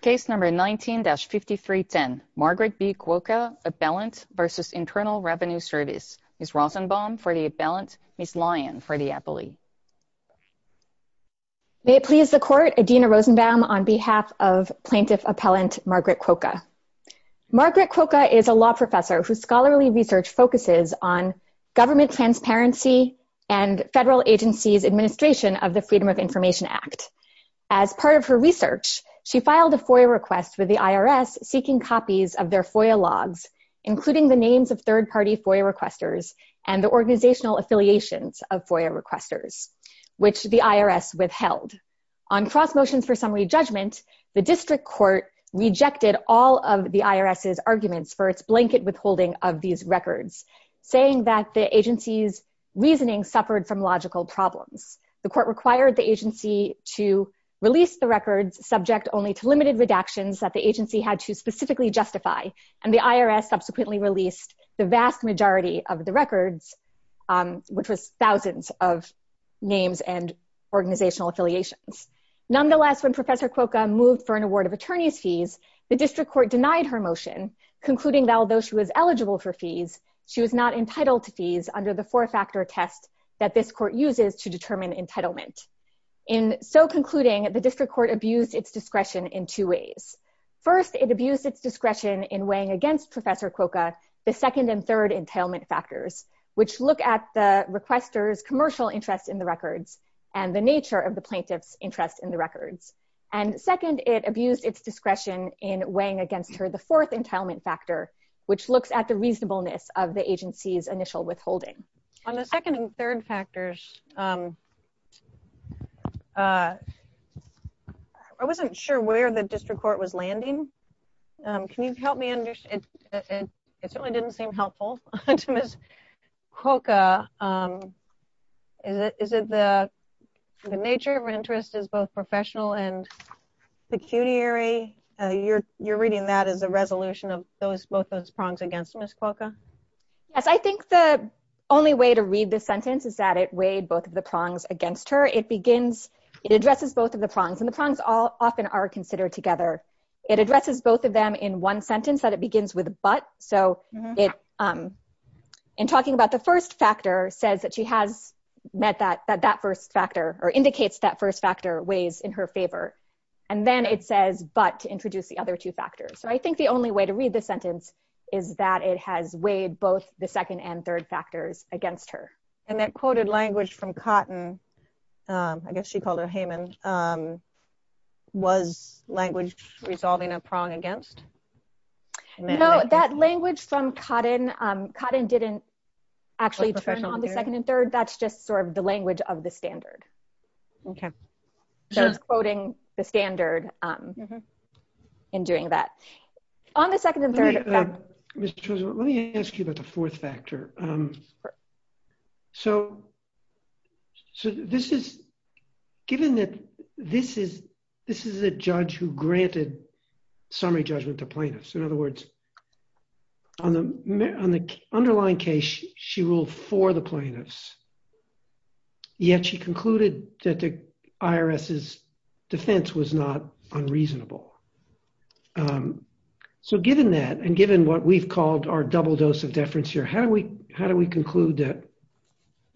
Case number 19-5310, Margaret B. Kwoka, Appellant v. Internal Revenue Service. Ms. Rosenbaum for the Appellant, Ms. Lyon for the Appellee. May it please the Court, Adina Rosenbaum on behalf of Plaintiff Appellant Margaret Kwoka. Margaret Kwoka is a law professor whose scholarly research focuses on government transparency and federal agencies' administration of the Freedom of Information Act. As part of her research, she filed a FOIA request with the IRS seeking copies of their FOIA logs, including the names of third-party FOIA requesters and the organizational affiliations of FOIA requesters, which the IRS withheld. On cross-motions for summary judgment, the district court rejected all of the IRS's arguments for its blanket withholding of these records, saying that the agency's reasoning suffered from logical problems. The court required the agency to release the records subject only to limited redactions that the agency had to specifically justify, and the IRS subsequently released the vast majority of the records, which was thousands of names and organizational affiliations. Nonetheless, when Professor Kwoka moved for an award of attorney's fees, the district court denied her motion, concluding that although she was eligible for fees, she was not entitled to fees under the four-factor test that this court uses to determine entitlement. In so concluding, the district court abused its discretion in two ways. First, it abused its discretion in weighing against Professor Kwoka the second and third entailment factors, which look at the requester's commercial interest in the records and the nature of the plaintiff's interest in the records. And second, it abused its discretion in weighing against her the fourth entailment factor, which looks at the reasonableness of the agency's initial withholding. On the second and third factors, I wasn't sure where the district court was landing. Can you help me understand? It certainly didn't seem helpful to Ms. Kwoka. Is it the nature of interest is both professional and pecuniary? You're reading that as a resolution of both those prongs against Ms. Kwoka? Yes, I think the only way to read this sentence is that it weighed both of the prongs against her. It addresses both of the prongs, and the prongs often are considered together. It addresses both of them in one sentence, that it begins with but. So in talking about the first factor, it says that she has met that first factor or indicates that first factor weighs in her favor. And then it says but to introduce the other two factors. So I think the only way to read this sentence is that it has weighed both the second and third factors against her. And that quoted language from Cotton, I guess she called her Heyman, was language resolving a prong against? No, that language from Cotton, Cotton didn't actually turn on the second and third. That's just sort of the language of the standard. Okay. So it's quoting the standard in doing that. On the second and third. Mr. Chisholm, let me ask you about the fourth factor. So this is, given that this is, this is a judge who granted summary judgment to plaintiffs. In other words, on the underlying case, she ruled for the plaintiffs. Yet she concluded that the IRS's defense was not unreasonable. So given that, and given what we've called our double dose of deference here, how do we, how do we conclude that,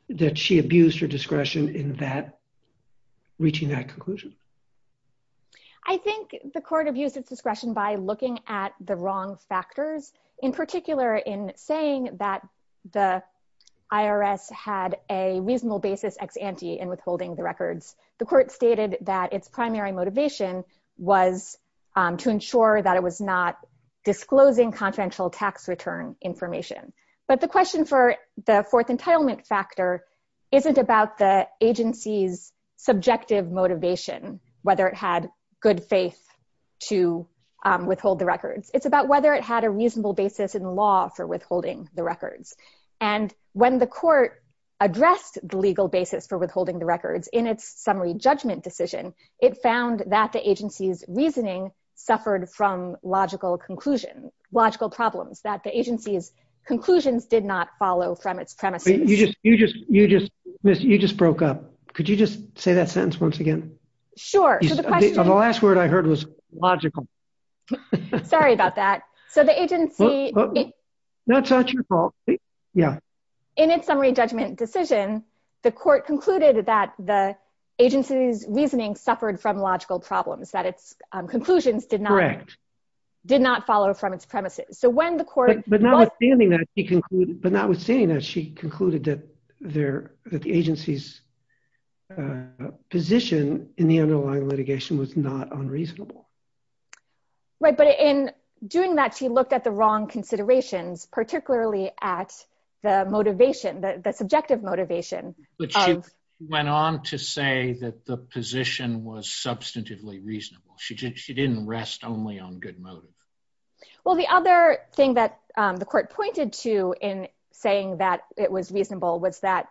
that she abused her discretion in that, reaching that conclusion? I think the court abused its discretion by looking at the wrong factors, in particular in saying that the IRS had a reasonable basis ex ante in withholding the records. The court stated that its primary motivation was to ensure that it was not disclosing confidential tax return information. But the question for the fourth entitlement factor isn't about the agency's subjective motivation, whether it had good faith to withhold the records. It's about whether it had a reasonable basis in law for withholding the records. And when the court addressed the legal basis for withholding the records in its summary judgment decision, it found that the agency's reasoning suffered from logical conclusion, logical problems that the agency's conclusions did not follow from its premises. You just, you just, you just, you just broke up. Could you just say that sentence once again? Sure. The last word I heard was logical. Sorry about that. So the agency That's not your fault. Yeah. In its summary judgment decision, the court concluded that the agency's reasoning suffered from logical problems that its conclusions did not Correct. Did not follow from its premises. So when the court But notwithstanding that, she concluded that the agency's position in the underlying litigation was not unreasonable. Right. But in doing that, she looked at the wrong considerations, particularly at the motivation that the subjective motivation. But she went on to say that the position was substantively reasonable. She didn't rest only on good motive. Well, the other thing that the court pointed to in saying that it was reasonable was that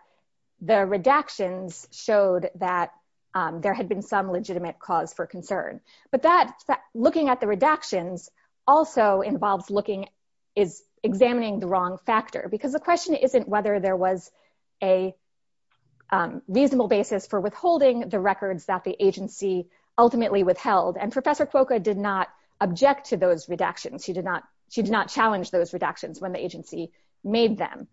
the redactions showed that There had been some legitimate cause for concern, but that looking at the redactions also involves looking is examining the wrong factor because the question isn't whether there was a She did not challenge those redactions when the agency made them.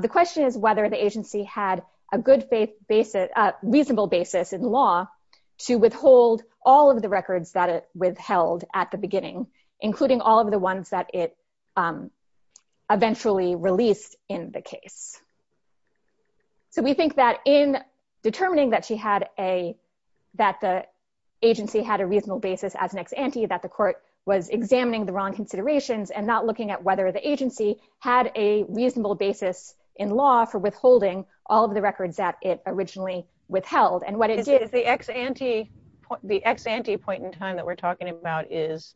The question is whether the agency had a good faith basis reasonable basis in law to withhold all of the records that it withheld at the beginning, including all of the ones that it Eventually released in the case. So we think that in determining that she had a that the Agency had a reasonable basis as an ex ante that the court was examining the wrong considerations and not looking at whether the agency had a reasonable basis in law for withholding all of the records that it originally withheld and what it is the ex ante. The ex ante point in time that we're talking about is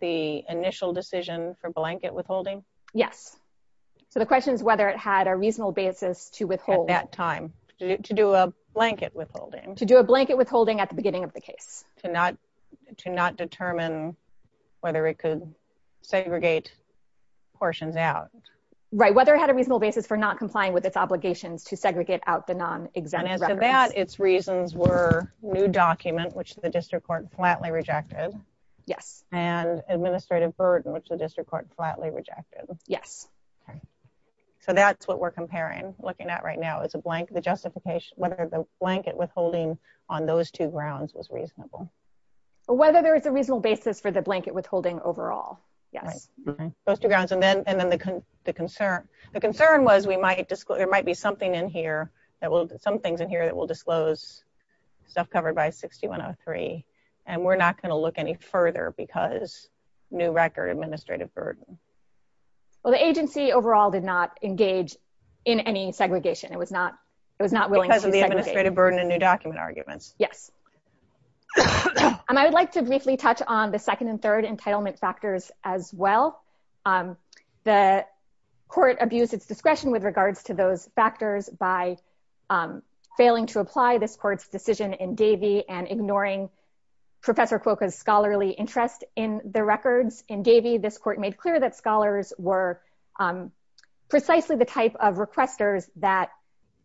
the initial decision for blanket withholding. Yes. So the question is whether it had a reasonable basis to withhold that time to do a blanket withholding to do a blanket withholding at the beginning of the case to not to not determine whether it could segregate portions out Right, whether it had a reasonable basis for not complying with its obligations to segregate out the non exam. Its reasons were new document which the district court flatly rejected. Yes, and administrative burden, which the district court flatly rejected. Yes. So that's what we're comparing looking at right now is a blank. The justification, whether the blanket withholding on those two grounds was reasonable. Whether there is a reasonable basis for the blanket withholding overall. Yes. Those two grounds and then and then the concern. The concern was, we might just go there might be something in here that will some things in here that will disclose stuff covered by 6103 and we're not going to look any further because new record administrative burden. Well, the agency overall did not engage in any segregation. It was not. It was not willing to The administrative burden and new document arguments. Yes. And I would like to briefly touch on the second and third entitlement factors as well. The court abuse its discretion with regards to those factors by Failing to apply this court's decision in Davy and ignoring Professor Quokka scholarly interest in the records in Davy this court made clear that scholars were Precisely the type of requesters that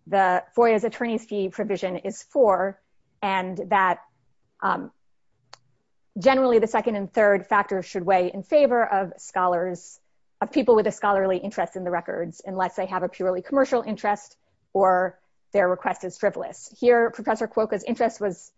the for his attorneys fee provision is for and that Generally, the second and third factor should weigh in favor of scholars of people with a scholarly interest in the records, unless they have a purely commercial interest or their request is frivolous here, Professor Quokka interest was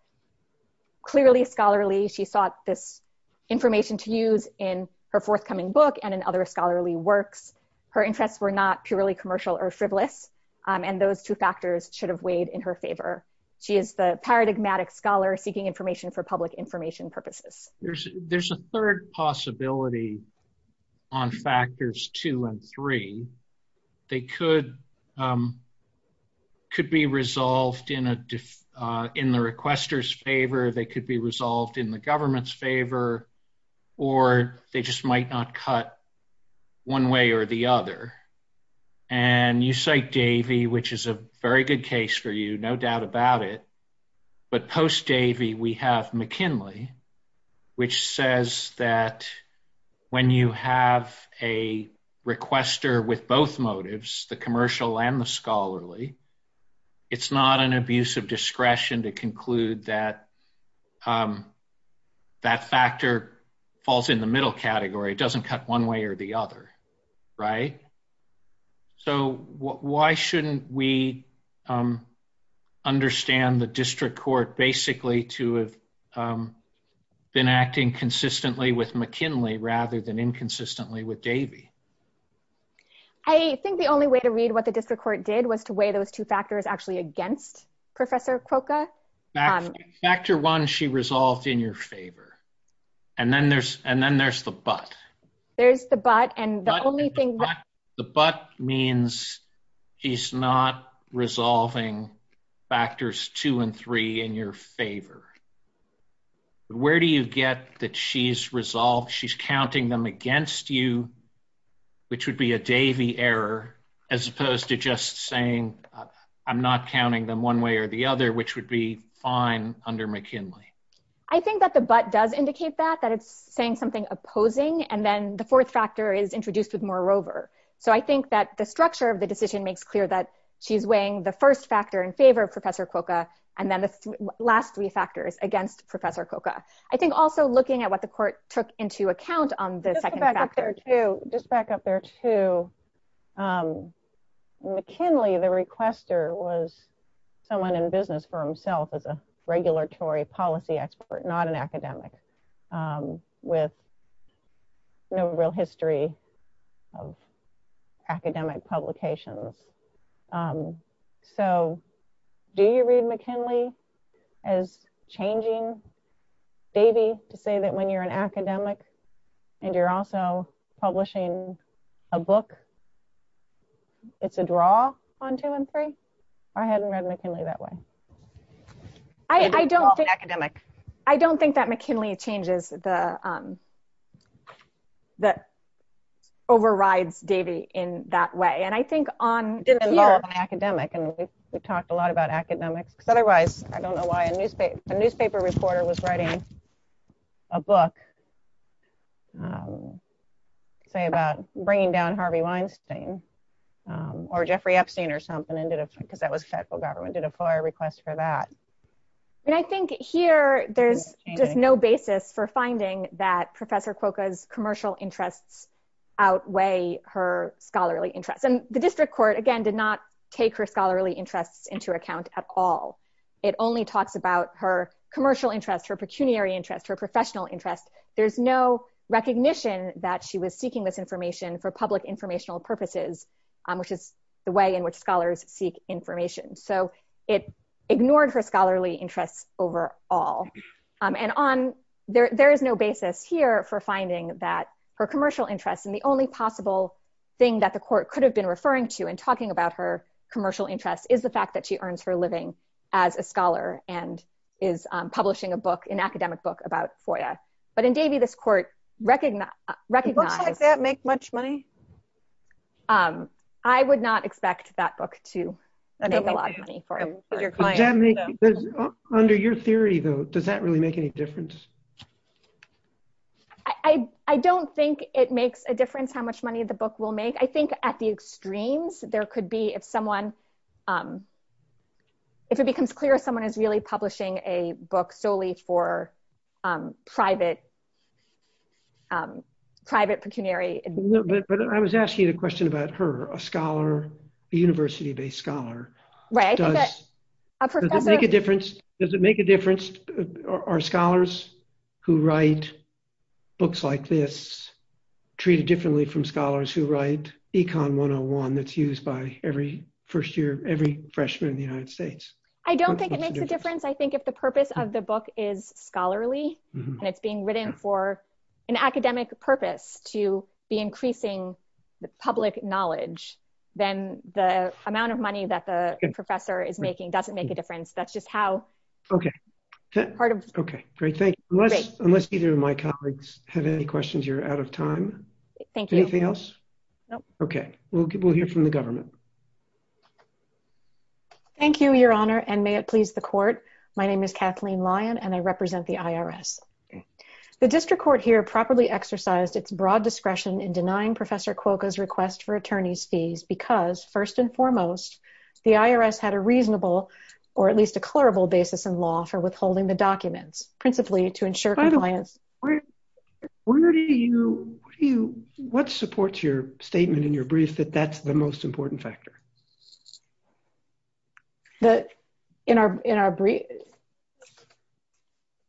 Clearly scholarly she sought this information to use in her forthcoming book and and other scholarly works her interests were not purely commercial or frivolous And those two factors should have weighed in her favor. She is the paradigmatic scholar seeking information for public information purposes. There's, there's a third possibility on factors two and three, they could Could be resolved in a in the requesters favor, they could be resolved in the government's favor or they just might not cut one way or the other. And you say Davy, which is a very good case for you. No doubt about it. But post Davy we have McKinley, which says that when you have a requester with both motives, the commercial and the scholarly it's not an abuse of discretion to conclude that That factor falls in the middle category doesn't cut one way or the other. Right. So why shouldn't we Understand the district court basically to have Been acting consistently with McKinley rather than inconsistently with Davy I think the only way to read what the district court did was to weigh those two factors actually against Professor Quokka Factor one she resolved in your favor and then there's and then there's the but There's the but and the only thing The but means he's not resolving factors two and three in your favor. Where do you get that she's resolved. She's counting them against you, which would be a Davy error, as opposed to just saying I'm not counting them one way or the other, which would be fine under McKinley. I think that the but does indicate that that it's saying something opposing and then the fourth factor is introduced with more rover. So I think that the structure of the decision makes clear that she's weighing the first factor in favor of Professor Quokka and then the last three factors against Professor Quokka I think also looking at what the court took into account on the second Just back up there to McKinley the requester was someone in business for himself as a regulatory policy expert, not an academic With No real history of academic publications. So, do you read McKinley as changing Davy to say that when you're an academic and you're also publishing a book. It's a draw on two and three. I hadn't read McKinley that way. I don't think academic. I don't think that McKinley changes the That overrides Davy in that way. And I think on Academic and we've talked a lot about academics, because otherwise I don't know why a newspaper, a newspaper reporter was writing A book. Say about bringing down Harvey Weinstein. Or Jeffrey Epstein or something and did it because that was federal government did a fire request for that. And I think here there's just no basis for finding that Professor Quokka is commercial interests. Outweigh her scholarly interest and the district court again did not take her scholarly interests into account at all. It only talks about her commercial interest her pecuniary interest her professional interest. There's no recognition that she was seeking this information for public informational purposes. Which is the way in which scholars seek information. So it ignored her scholarly interests overall. And on there. There is no basis here for finding that her commercial interests and the only possible Thing that the court could have been referring to and talking about her commercial interest is the fact that she earns her living as a scholar and is publishing a book in academic book about for you, but in Davy this court recognize recognize That make much money. I would not expect that book to Under your theory, though, does that really make any difference. I, I don't think it makes a difference how much money the book will make. I think at the extremes, there could be if someone If it becomes clear someone is really publishing a book solely for private Private pecuniary But I was asking a question about her a scholar university based scholar. Right. Make a difference. Does it make a difference. Our scholars who write books like this treated differently from scholars who write econ one on one that's used by every first year every freshman in the United States. I don't think it makes a difference. I think if the purpose of the book is scholarly and it's being written for an academic purpose to be increasing the public knowledge, then the amount of money that the professor is making doesn't make a difference. That's just how Okay. Okay, great. Thank you. Unless unless either of my colleagues have any questions, you're out of time. Thank you. Anything else. Okay, we'll get we'll hear from the government. Thank you, Your Honor, and may it please the court. My name is Kathleen lion and I represent the IRS. The district court here properly exercised its broad discretion in denying Professor Quokka his request for attorneys fees because, first and foremost, the IRS had a reasonable or at least a clerical basis in law for withholding the documents, principally to ensure Where do you What supports your statement in your brief that that's the most important factor. That in our, in our brief.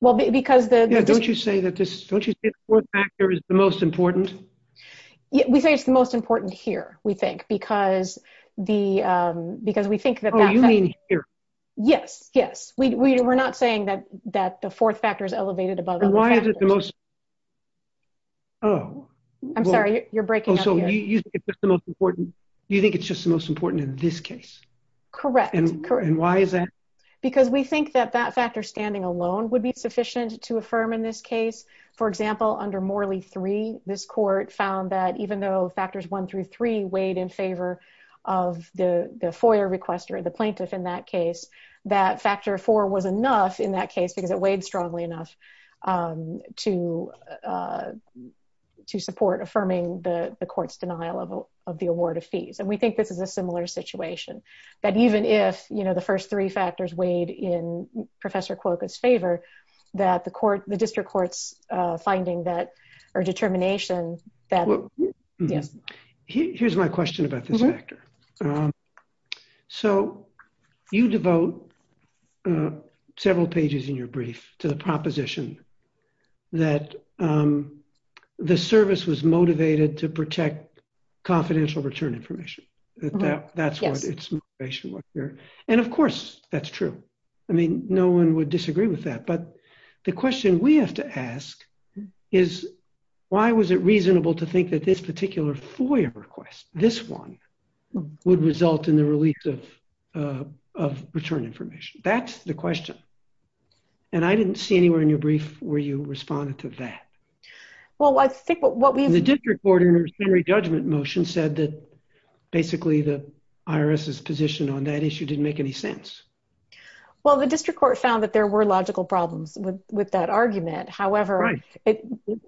Well, because the Don't you say that this Is the most important. We say it's the most important here, we think, because the because we think that Yes, yes, we were not saying that that the fourth factors elevated about Why is it the most Oh, I'm sorry, you're breaking So you You think it's just the most important in this case. Correct. And why is that Because we think that that factor standing alone would be sufficient to affirm in this case, for example, under Morley three this court found that even though factors one through three weighed in favor. Of the the FOIA request or the plaintiff in that case that factor for was enough in that case because it weighed strongly enough To To support affirming the courts denial of the award of fees and we think this is a similar situation that even if you know the first three factors weighed in Professor Quokka's favor that the court, the district courts finding that or determination that Yes. Here's my question about this factor. So you devote Several pages in your brief to the proposition that The service was motivated to protect confidential return information. That's what it's And of course, that's true. I mean, no one would disagree with that. But the question we have to ask is, why was it reasonable to think that this particular FOIA request this one would result in the release of Return information. That's the question. And I didn't see anywhere in your brief where you responded to that. Well, I think what we Did recorders Henry judgment motion said that basically the IRS is positioned on that issue didn't make any sense. Well, the district court found that there were logical problems with with that argument. However,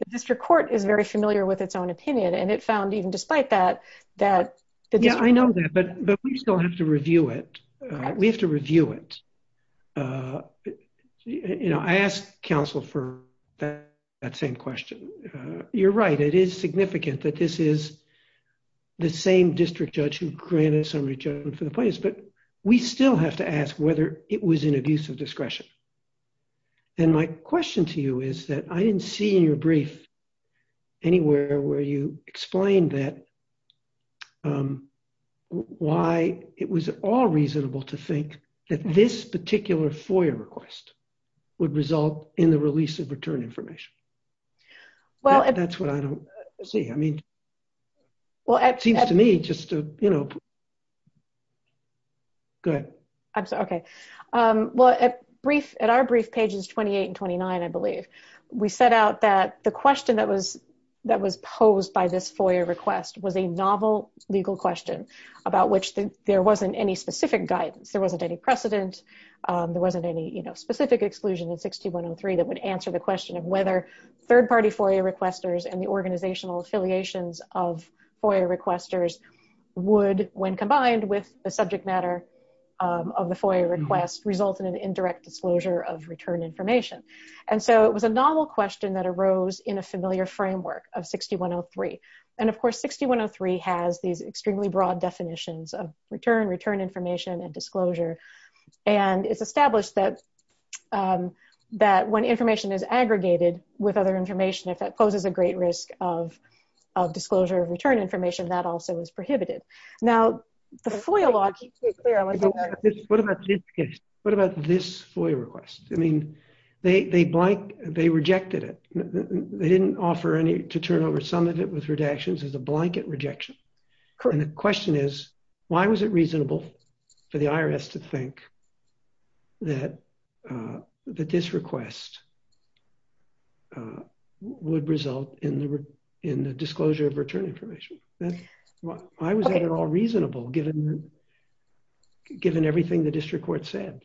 District Court is very familiar with its own opinion and it found even despite that that I know that, but But we still have to review it. We have to review it. You know, I asked counsel for that same question. You're right. It is significant that this is the same district judge who granted summary judgment for the place, but we still have to ask whether it was an abuse of discretion. And my question to you is that I didn't see in your brief anywhere where you explained that Why it was all reasonable to think that this particular FOIA request would result in the release of return information. Well, that's what I don't see. I mean, Well, it seems to me just to, you know, Good. Okay. Well, a brief at our brief pages 28 and 29 I believe we set out that the question that was that was posed by this FOIA request was a novel legal question. About which there wasn't any specific guidance. There wasn't any precedent. There wasn't any, you know, specific exclusion and 6103 that would answer the question of whether third party FOIA requesters and the organizational affiliations of FOIA requesters. Would when combined with the subject matter of the FOIA request result in an indirect disclosure of return information. And so it was a novel question that arose in a familiar framework of 6103 and of course 6103 has these extremely broad definitions of return, return information and disclosure and it's established that That when information is aggregated with other information if that poses a great risk of disclosure return information that also is prohibited. Now, the FOIA law What about this case. What about this FOIA request. I mean, they blank. They rejected it. They didn't offer any to turn over some of it with redactions as a blanket rejection. And the question is, why was it reasonable for the IRS to think That That this request. Would result in the in the disclosure of return information. I was at all reasonable given Given everything the district court said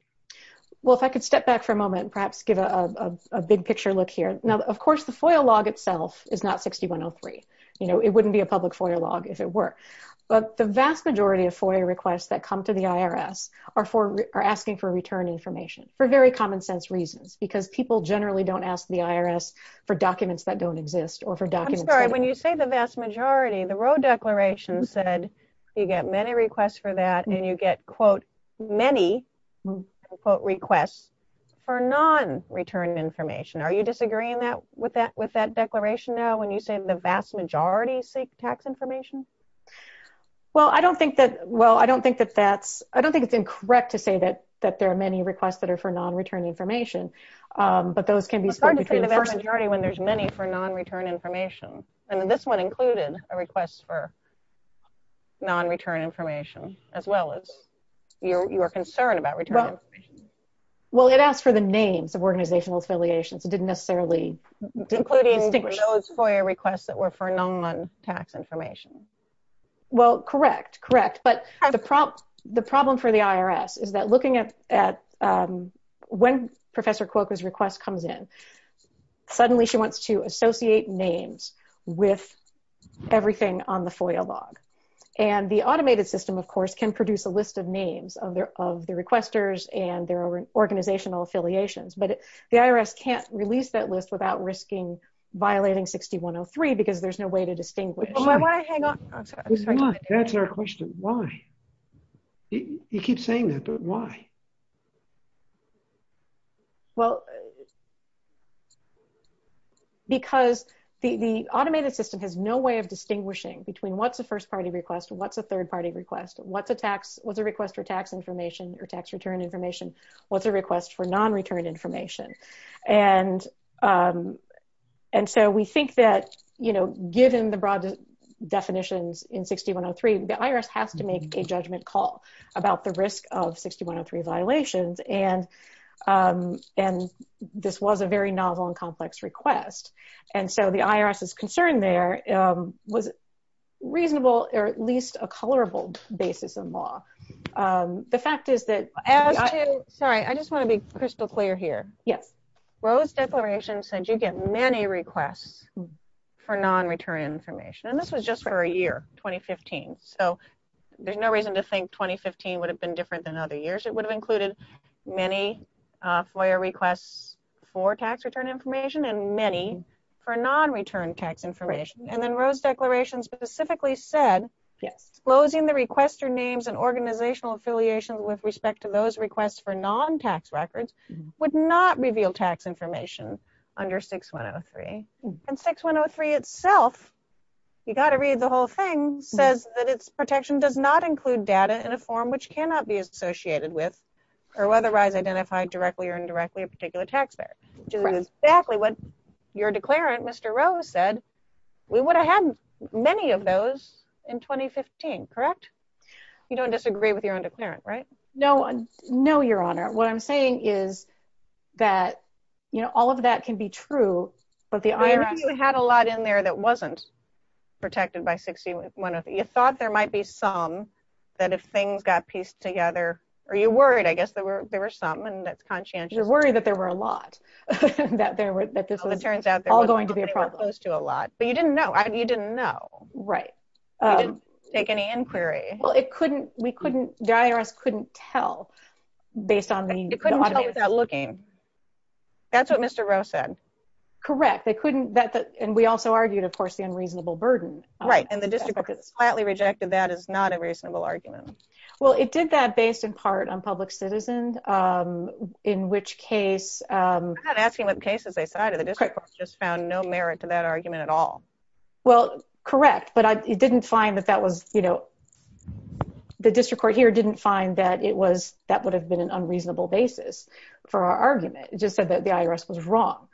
Well, if I could step back for a moment, perhaps give a big picture. Look here. Now, of course, the FOIA log itself is not 6103 you know it wouldn't be a public FOIA log, if it were But the vast majority of FOIA requests that come to the IRS are for are asking for return information for very common sense reasons because people generally don't ask the IRS for documents that don't exist or for documents. When you say the vast majority of the road declaration said you get many requests for that and you get quote many Quote requests for non return information. Are you disagreeing that with that with that declaration. Now, when you say the vast majority seek tax information. Well, I don't think that. Well, I don't think that that's I don't think it's incorrect to say that that there are many requests that are for non return information. But those can be split between The vast majority when there's many for non return information and this one included a request for Non return information as well as your, your concern about return Well, it asked for the names of organizational affiliations. It didn't necessarily Including those FOIA requests that were for non tax information. Well, correct. Correct. But the prompt the problem for the IRS is that looking at at when Professor Quokka his request comes in. Suddenly, she wants to associate names with everything on the FOIA log And the automated system, of course, can produce a list of names of their of the requesters and their organizational affiliations, but the IRS can't release that list without risking violating 6103 because there's no way to distinguish That's our question. Why He keeps saying that, but why Well, Because the automated system has no way of distinguishing between what's the first party request. What's a third party request. What's a tax was a request for tax information or tax return information. What's a request for non return information and And so we think that, you know, given the broad definitions in 6103 the IRS has to make a judgment call about the risk of 6103 violations and And this was a very novel and complex request. And so the IRS is concerned there was reasonable or at least a colorable basis of law. The fact is that Sorry, I just want to be crystal clear here. Yes, Rose declaration said you get many requests for non return information. And this was just for a year 2015 so There's no reason to think 2015 would have been different than other years, it would have included many FOIA requests for tax return information and many for non return tax information and then Rose declaration specifically said Yes, closing the requester names and organizational affiliation with respect to those requests for non tax records would not reveal tax information under 6103 and 6103 itself. You got to read the whole thing says that it's protection does not include data in a form which cannot be associated with or otherwise identified directly or indirectly a particular taxpayer. Exactly what your declarant. Mr. Rose said we would have had many of those in 2015 correct you don't disagree with your own declarant right No, no, Your Honor. What I'm saying is that, you know, all of that can be true, but the We had a lot in there that wasn't protected by 6103. You thought there might be some that if things got pieced together. Are you worried, I guess there were there were some and that's conscientious You're worried that there were a lot that there were that this Turns out there was a lot. But you didn't know. You didn't know. Right. We didn't take any inquiry. Well, it couldn't, we couldn't, the IRS couldn't tell based on the It couldn't tell without looking. That's what Mr. Rose said. Correct. They couldn't that that and we also argued, of course, the unreasonable burden. Right. And the district quietly rejected that is not a reasonable argument. Well, it did that based in part on public citizen. In which case, I'm not asking what cases they cited, the district court just found no merit to that argument at all. Well, correct, but I didn't find that that was, you know, The district court here didn't find that it was that would have been an unreasonable basis for our argument just said that the IRS was wrong.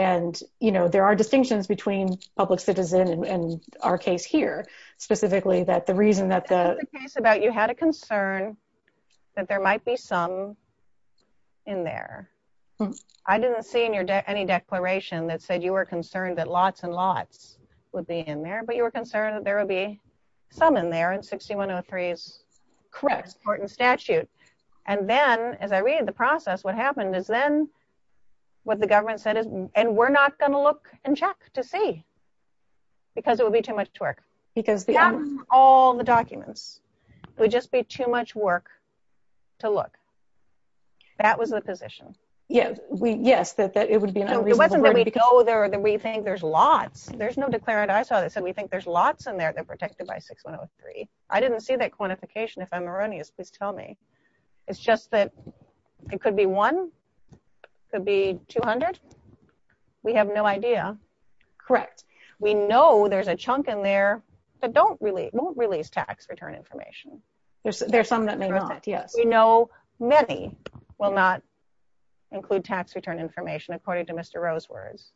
And, you know, there are distinctions between public citizen and our case here specifically that the reason that the Case about you had a concern that there might be some In there. I didn't see in your day any declaration that said you were concerned that lots and lots would be in there, but you were concerned that there will be some in there and 6103 is Correct court and statute. And then as I read the process. What happened is then what the government said is, and we're not going to look and check to see Because it would be too much to work. Because the All the documents would just be too much work to look That was the position. Yeah, we yes that that it would be an unreasonable It wasn't that we know that we think there's lots. There's no declarant ISO that said we think there's lots in there that protected by 6103 I didn't see that quantification. If I'm erroneous, please tell me. It's just that it could be one could be 200 We have no idea. Correct. We know there's a chunk in there that don't really won't release tax return information. There's, there's some that may not. Yes, we know, many will not include tax return information, according to Mr rose words.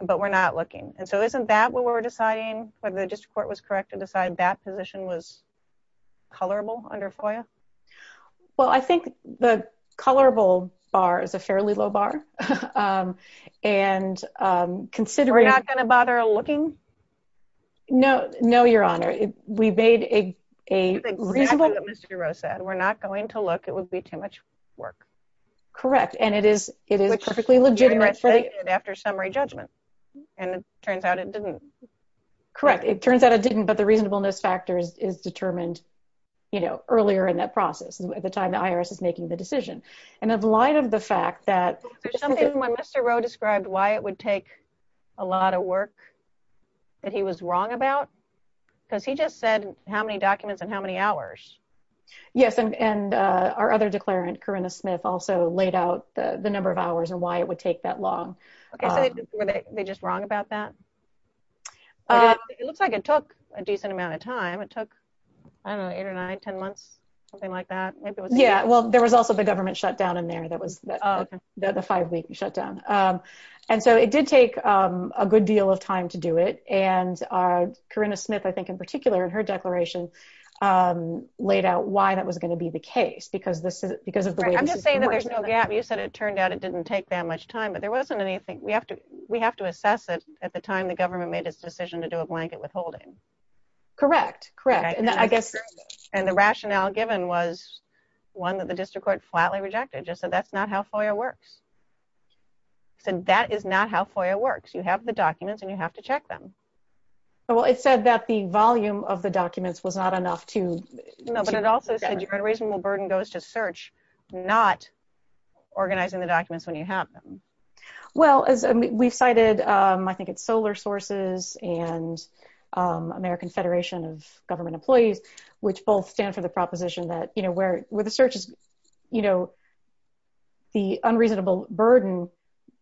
But we're not looking. And so isn't that what we're deciding whether the district court was correct to decide that position was colorable under FOIA Well, I think the colorable bar is a fairly low bar. And consider We're not going to bother looking No, no, Your Honor, we made a reasonable Mr rose said we're not going to look, it would be too much work. Correct. And it is it is perfectly legitimate for the after summary judgment. And it turns out it didn't Correct. It turns out it didn't. But the reasonableness factors is determined, you know, earlier in that process at the time the IRS is making the decision and of light of the fact that When Mr. Roe described why it would take a lot of work that he was wrong about because he just said how many documents and how many hours. Yes. And our other declarant Corinna Smith also laid out the the number of hours and why it would take that long. They just wrong about that. It looks like it took a decent amount of time. It took Eight or 910 months, something like that. Yeah, well, there was also the government shut down in there. That was the five week shut down. And so it did take a good deal of time to do it and our Corinna Smith, I think, in particular, and her declaration laid out why that was going to be the case because this is because of the I'm just saying that there's no gap. You said it turned out it didn't take that much time, but there wasn't anything we have to we have to assess it at the time the government made its decision to do a blanket withholding Correct, correct. And I guess And the rationale given was one that the district court flatly rejected just so that's not how FOIA works. So that is not how FOIA works. You have the documents and you have to check them. Well, it said that the volume of the documents was not enough to No, but it also said you had a reasonable burden goes to search not organizing the documents when you have them. Well, as we've cited, I think it's solar sources and American Federation of Government Employees, which both stand for the proposition that you know where where the search is, you know, The unreasonable burden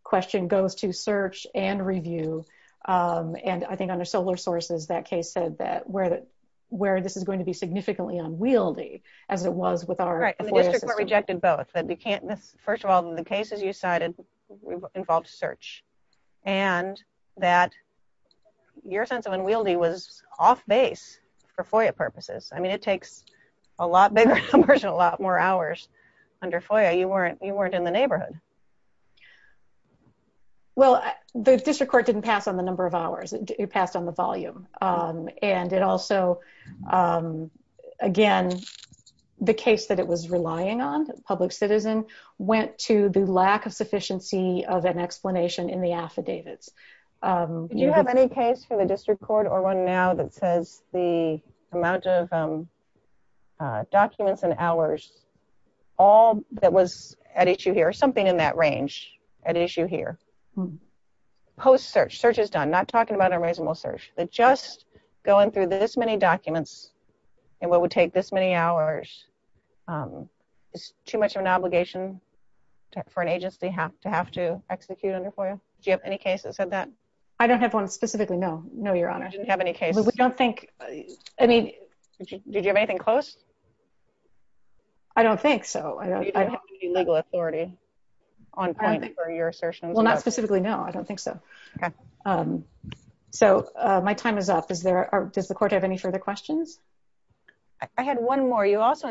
question goes to search and review. And I think under solar sources that case said that where that where this is going to be significantly unwieldy as it was with our Rejected both that we can't miss. First of all, the cases you cited involved search and that your sense of unwieldy was off base for FOIA purposes. I mean, it takes a lot bigger commercial lot more hours under FOIA you weren't you weren't in the neighborhood. Well, the district court didn't pass on the number of hours it passed on the volume and it also Again, the case that it was relying on public citizen went to the lack of sufficiency of an explanation in the affidavits. You have any case for the district court or one now that says the amount of Documents and hours all that was at issue here something in that range at issue here. Post search search is done, not talking about unreasonable search that just going through this many documents and what would take this many hours. It's too much of an obligation for an agency have to have to execute under FOIA. Do you have any cases of that. I don't have one specifically. No, no, Your Honor. Didn't have any cases. We don't think I mean, did you have anything close I don't think so. Legal authority on Your assertion. Well, not specifically. No, I don't think so. So my time is up. Is there. Does the court have any further questions. I had one more. You also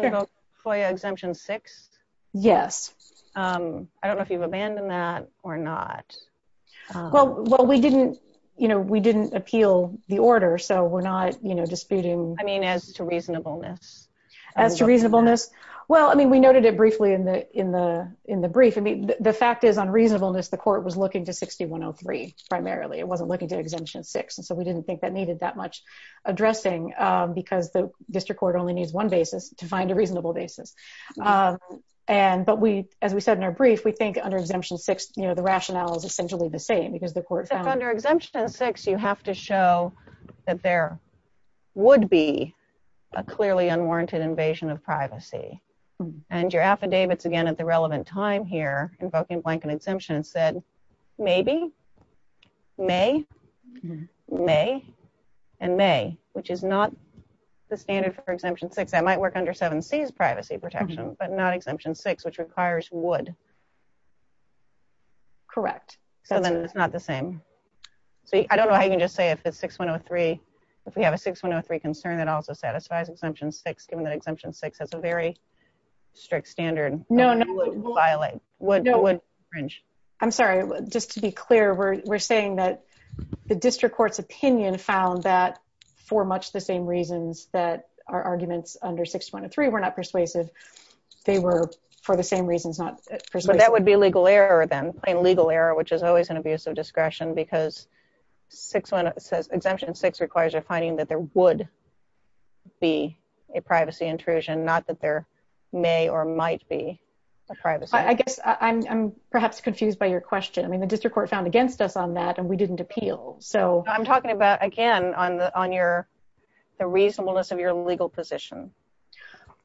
exemption six Yes. I don't know if you've abandoned that or not. Well, well, we didn't, you know, we didn't appeal the order. So we're not, you know, disputing I mean, as to reasonableness As to reasonableness. Well, I mean, we noted it briefly in the in the in the brief. I mean, the fact is on reasonableness. The court was looking to 6103 primarily it wasn't looking to exemption six. And so we didn't think that needed that much addressing because the district court only needs one basis to find a reasonable basis. And but we, as we said in our brief, we think under exemption six, you know, the rationale is essentially the same because the court. Under exemption six, you have to show that there would be a clearly unwarranted invasion of privacy and your affidavits again at the relevant time here invoking blanket exemption said maybe may And may, which is not the standard for exemption six, I might work under seven C's privacy protection, but not exemption six which requires would Correct. So then it's not the same. So I don't know. I can just say if it's 6103 if we have a 6103 concern that also satisfies exemption six given that exemption six has a very strict standard. No, no. Violate what no one I'm sorry, just to be clear, we're, we're saying that the district court's opinion found that for much the same reasons that our arguments under 6103 were not persuasive. They were for the same reasons, not That would be legal error, then legal error, which is always an abuse of discretion because six one says exemption six requires you're finding that there would be a privacy intrusion, not that there may or might be a privacy. I guess I'm perhaps confused by your question. I mean, the district court found against us on that and we didn't appeal. So I'm talking about, again, on the on your the reasonableness of your legal position.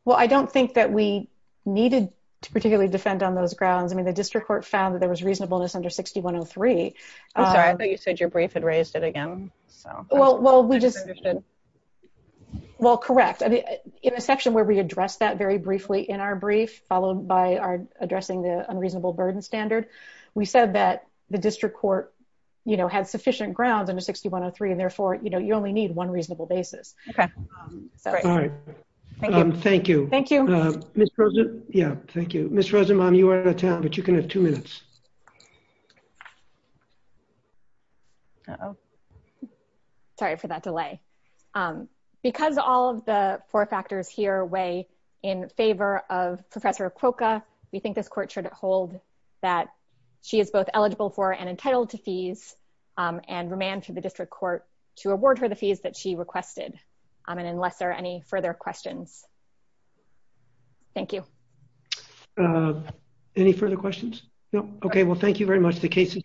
Well, I don't think that we needed to particularly defend on those grounds. I mean, the district court found that there was reasonableness under 6103 I thought you said your brief had raised it again so Well, well, we just Well, correct. I mean, in a section where we address that very briefly in our brief, followed by our addressing the unreasonable burden standard. We said that the district court, you know, had sufficient grounds under 6103 and therefore, you know, you only need one reasonable basis. Okay. Thank you. Thank you. Yeah, thank you, Mr. Rosenbaum you are in a town, but you can have two minutes. Oh, Sorry for that delay. Because all of the four factors here way in favor of Professor Quokka we think this court should hold that she is both eligible for and entitled to fees and remand to the district court to award her the fees that she requested. I mean, unless there are any further questions. Thank you. Any further questions. No. Okay. Well, thank you very much. The case is submitted.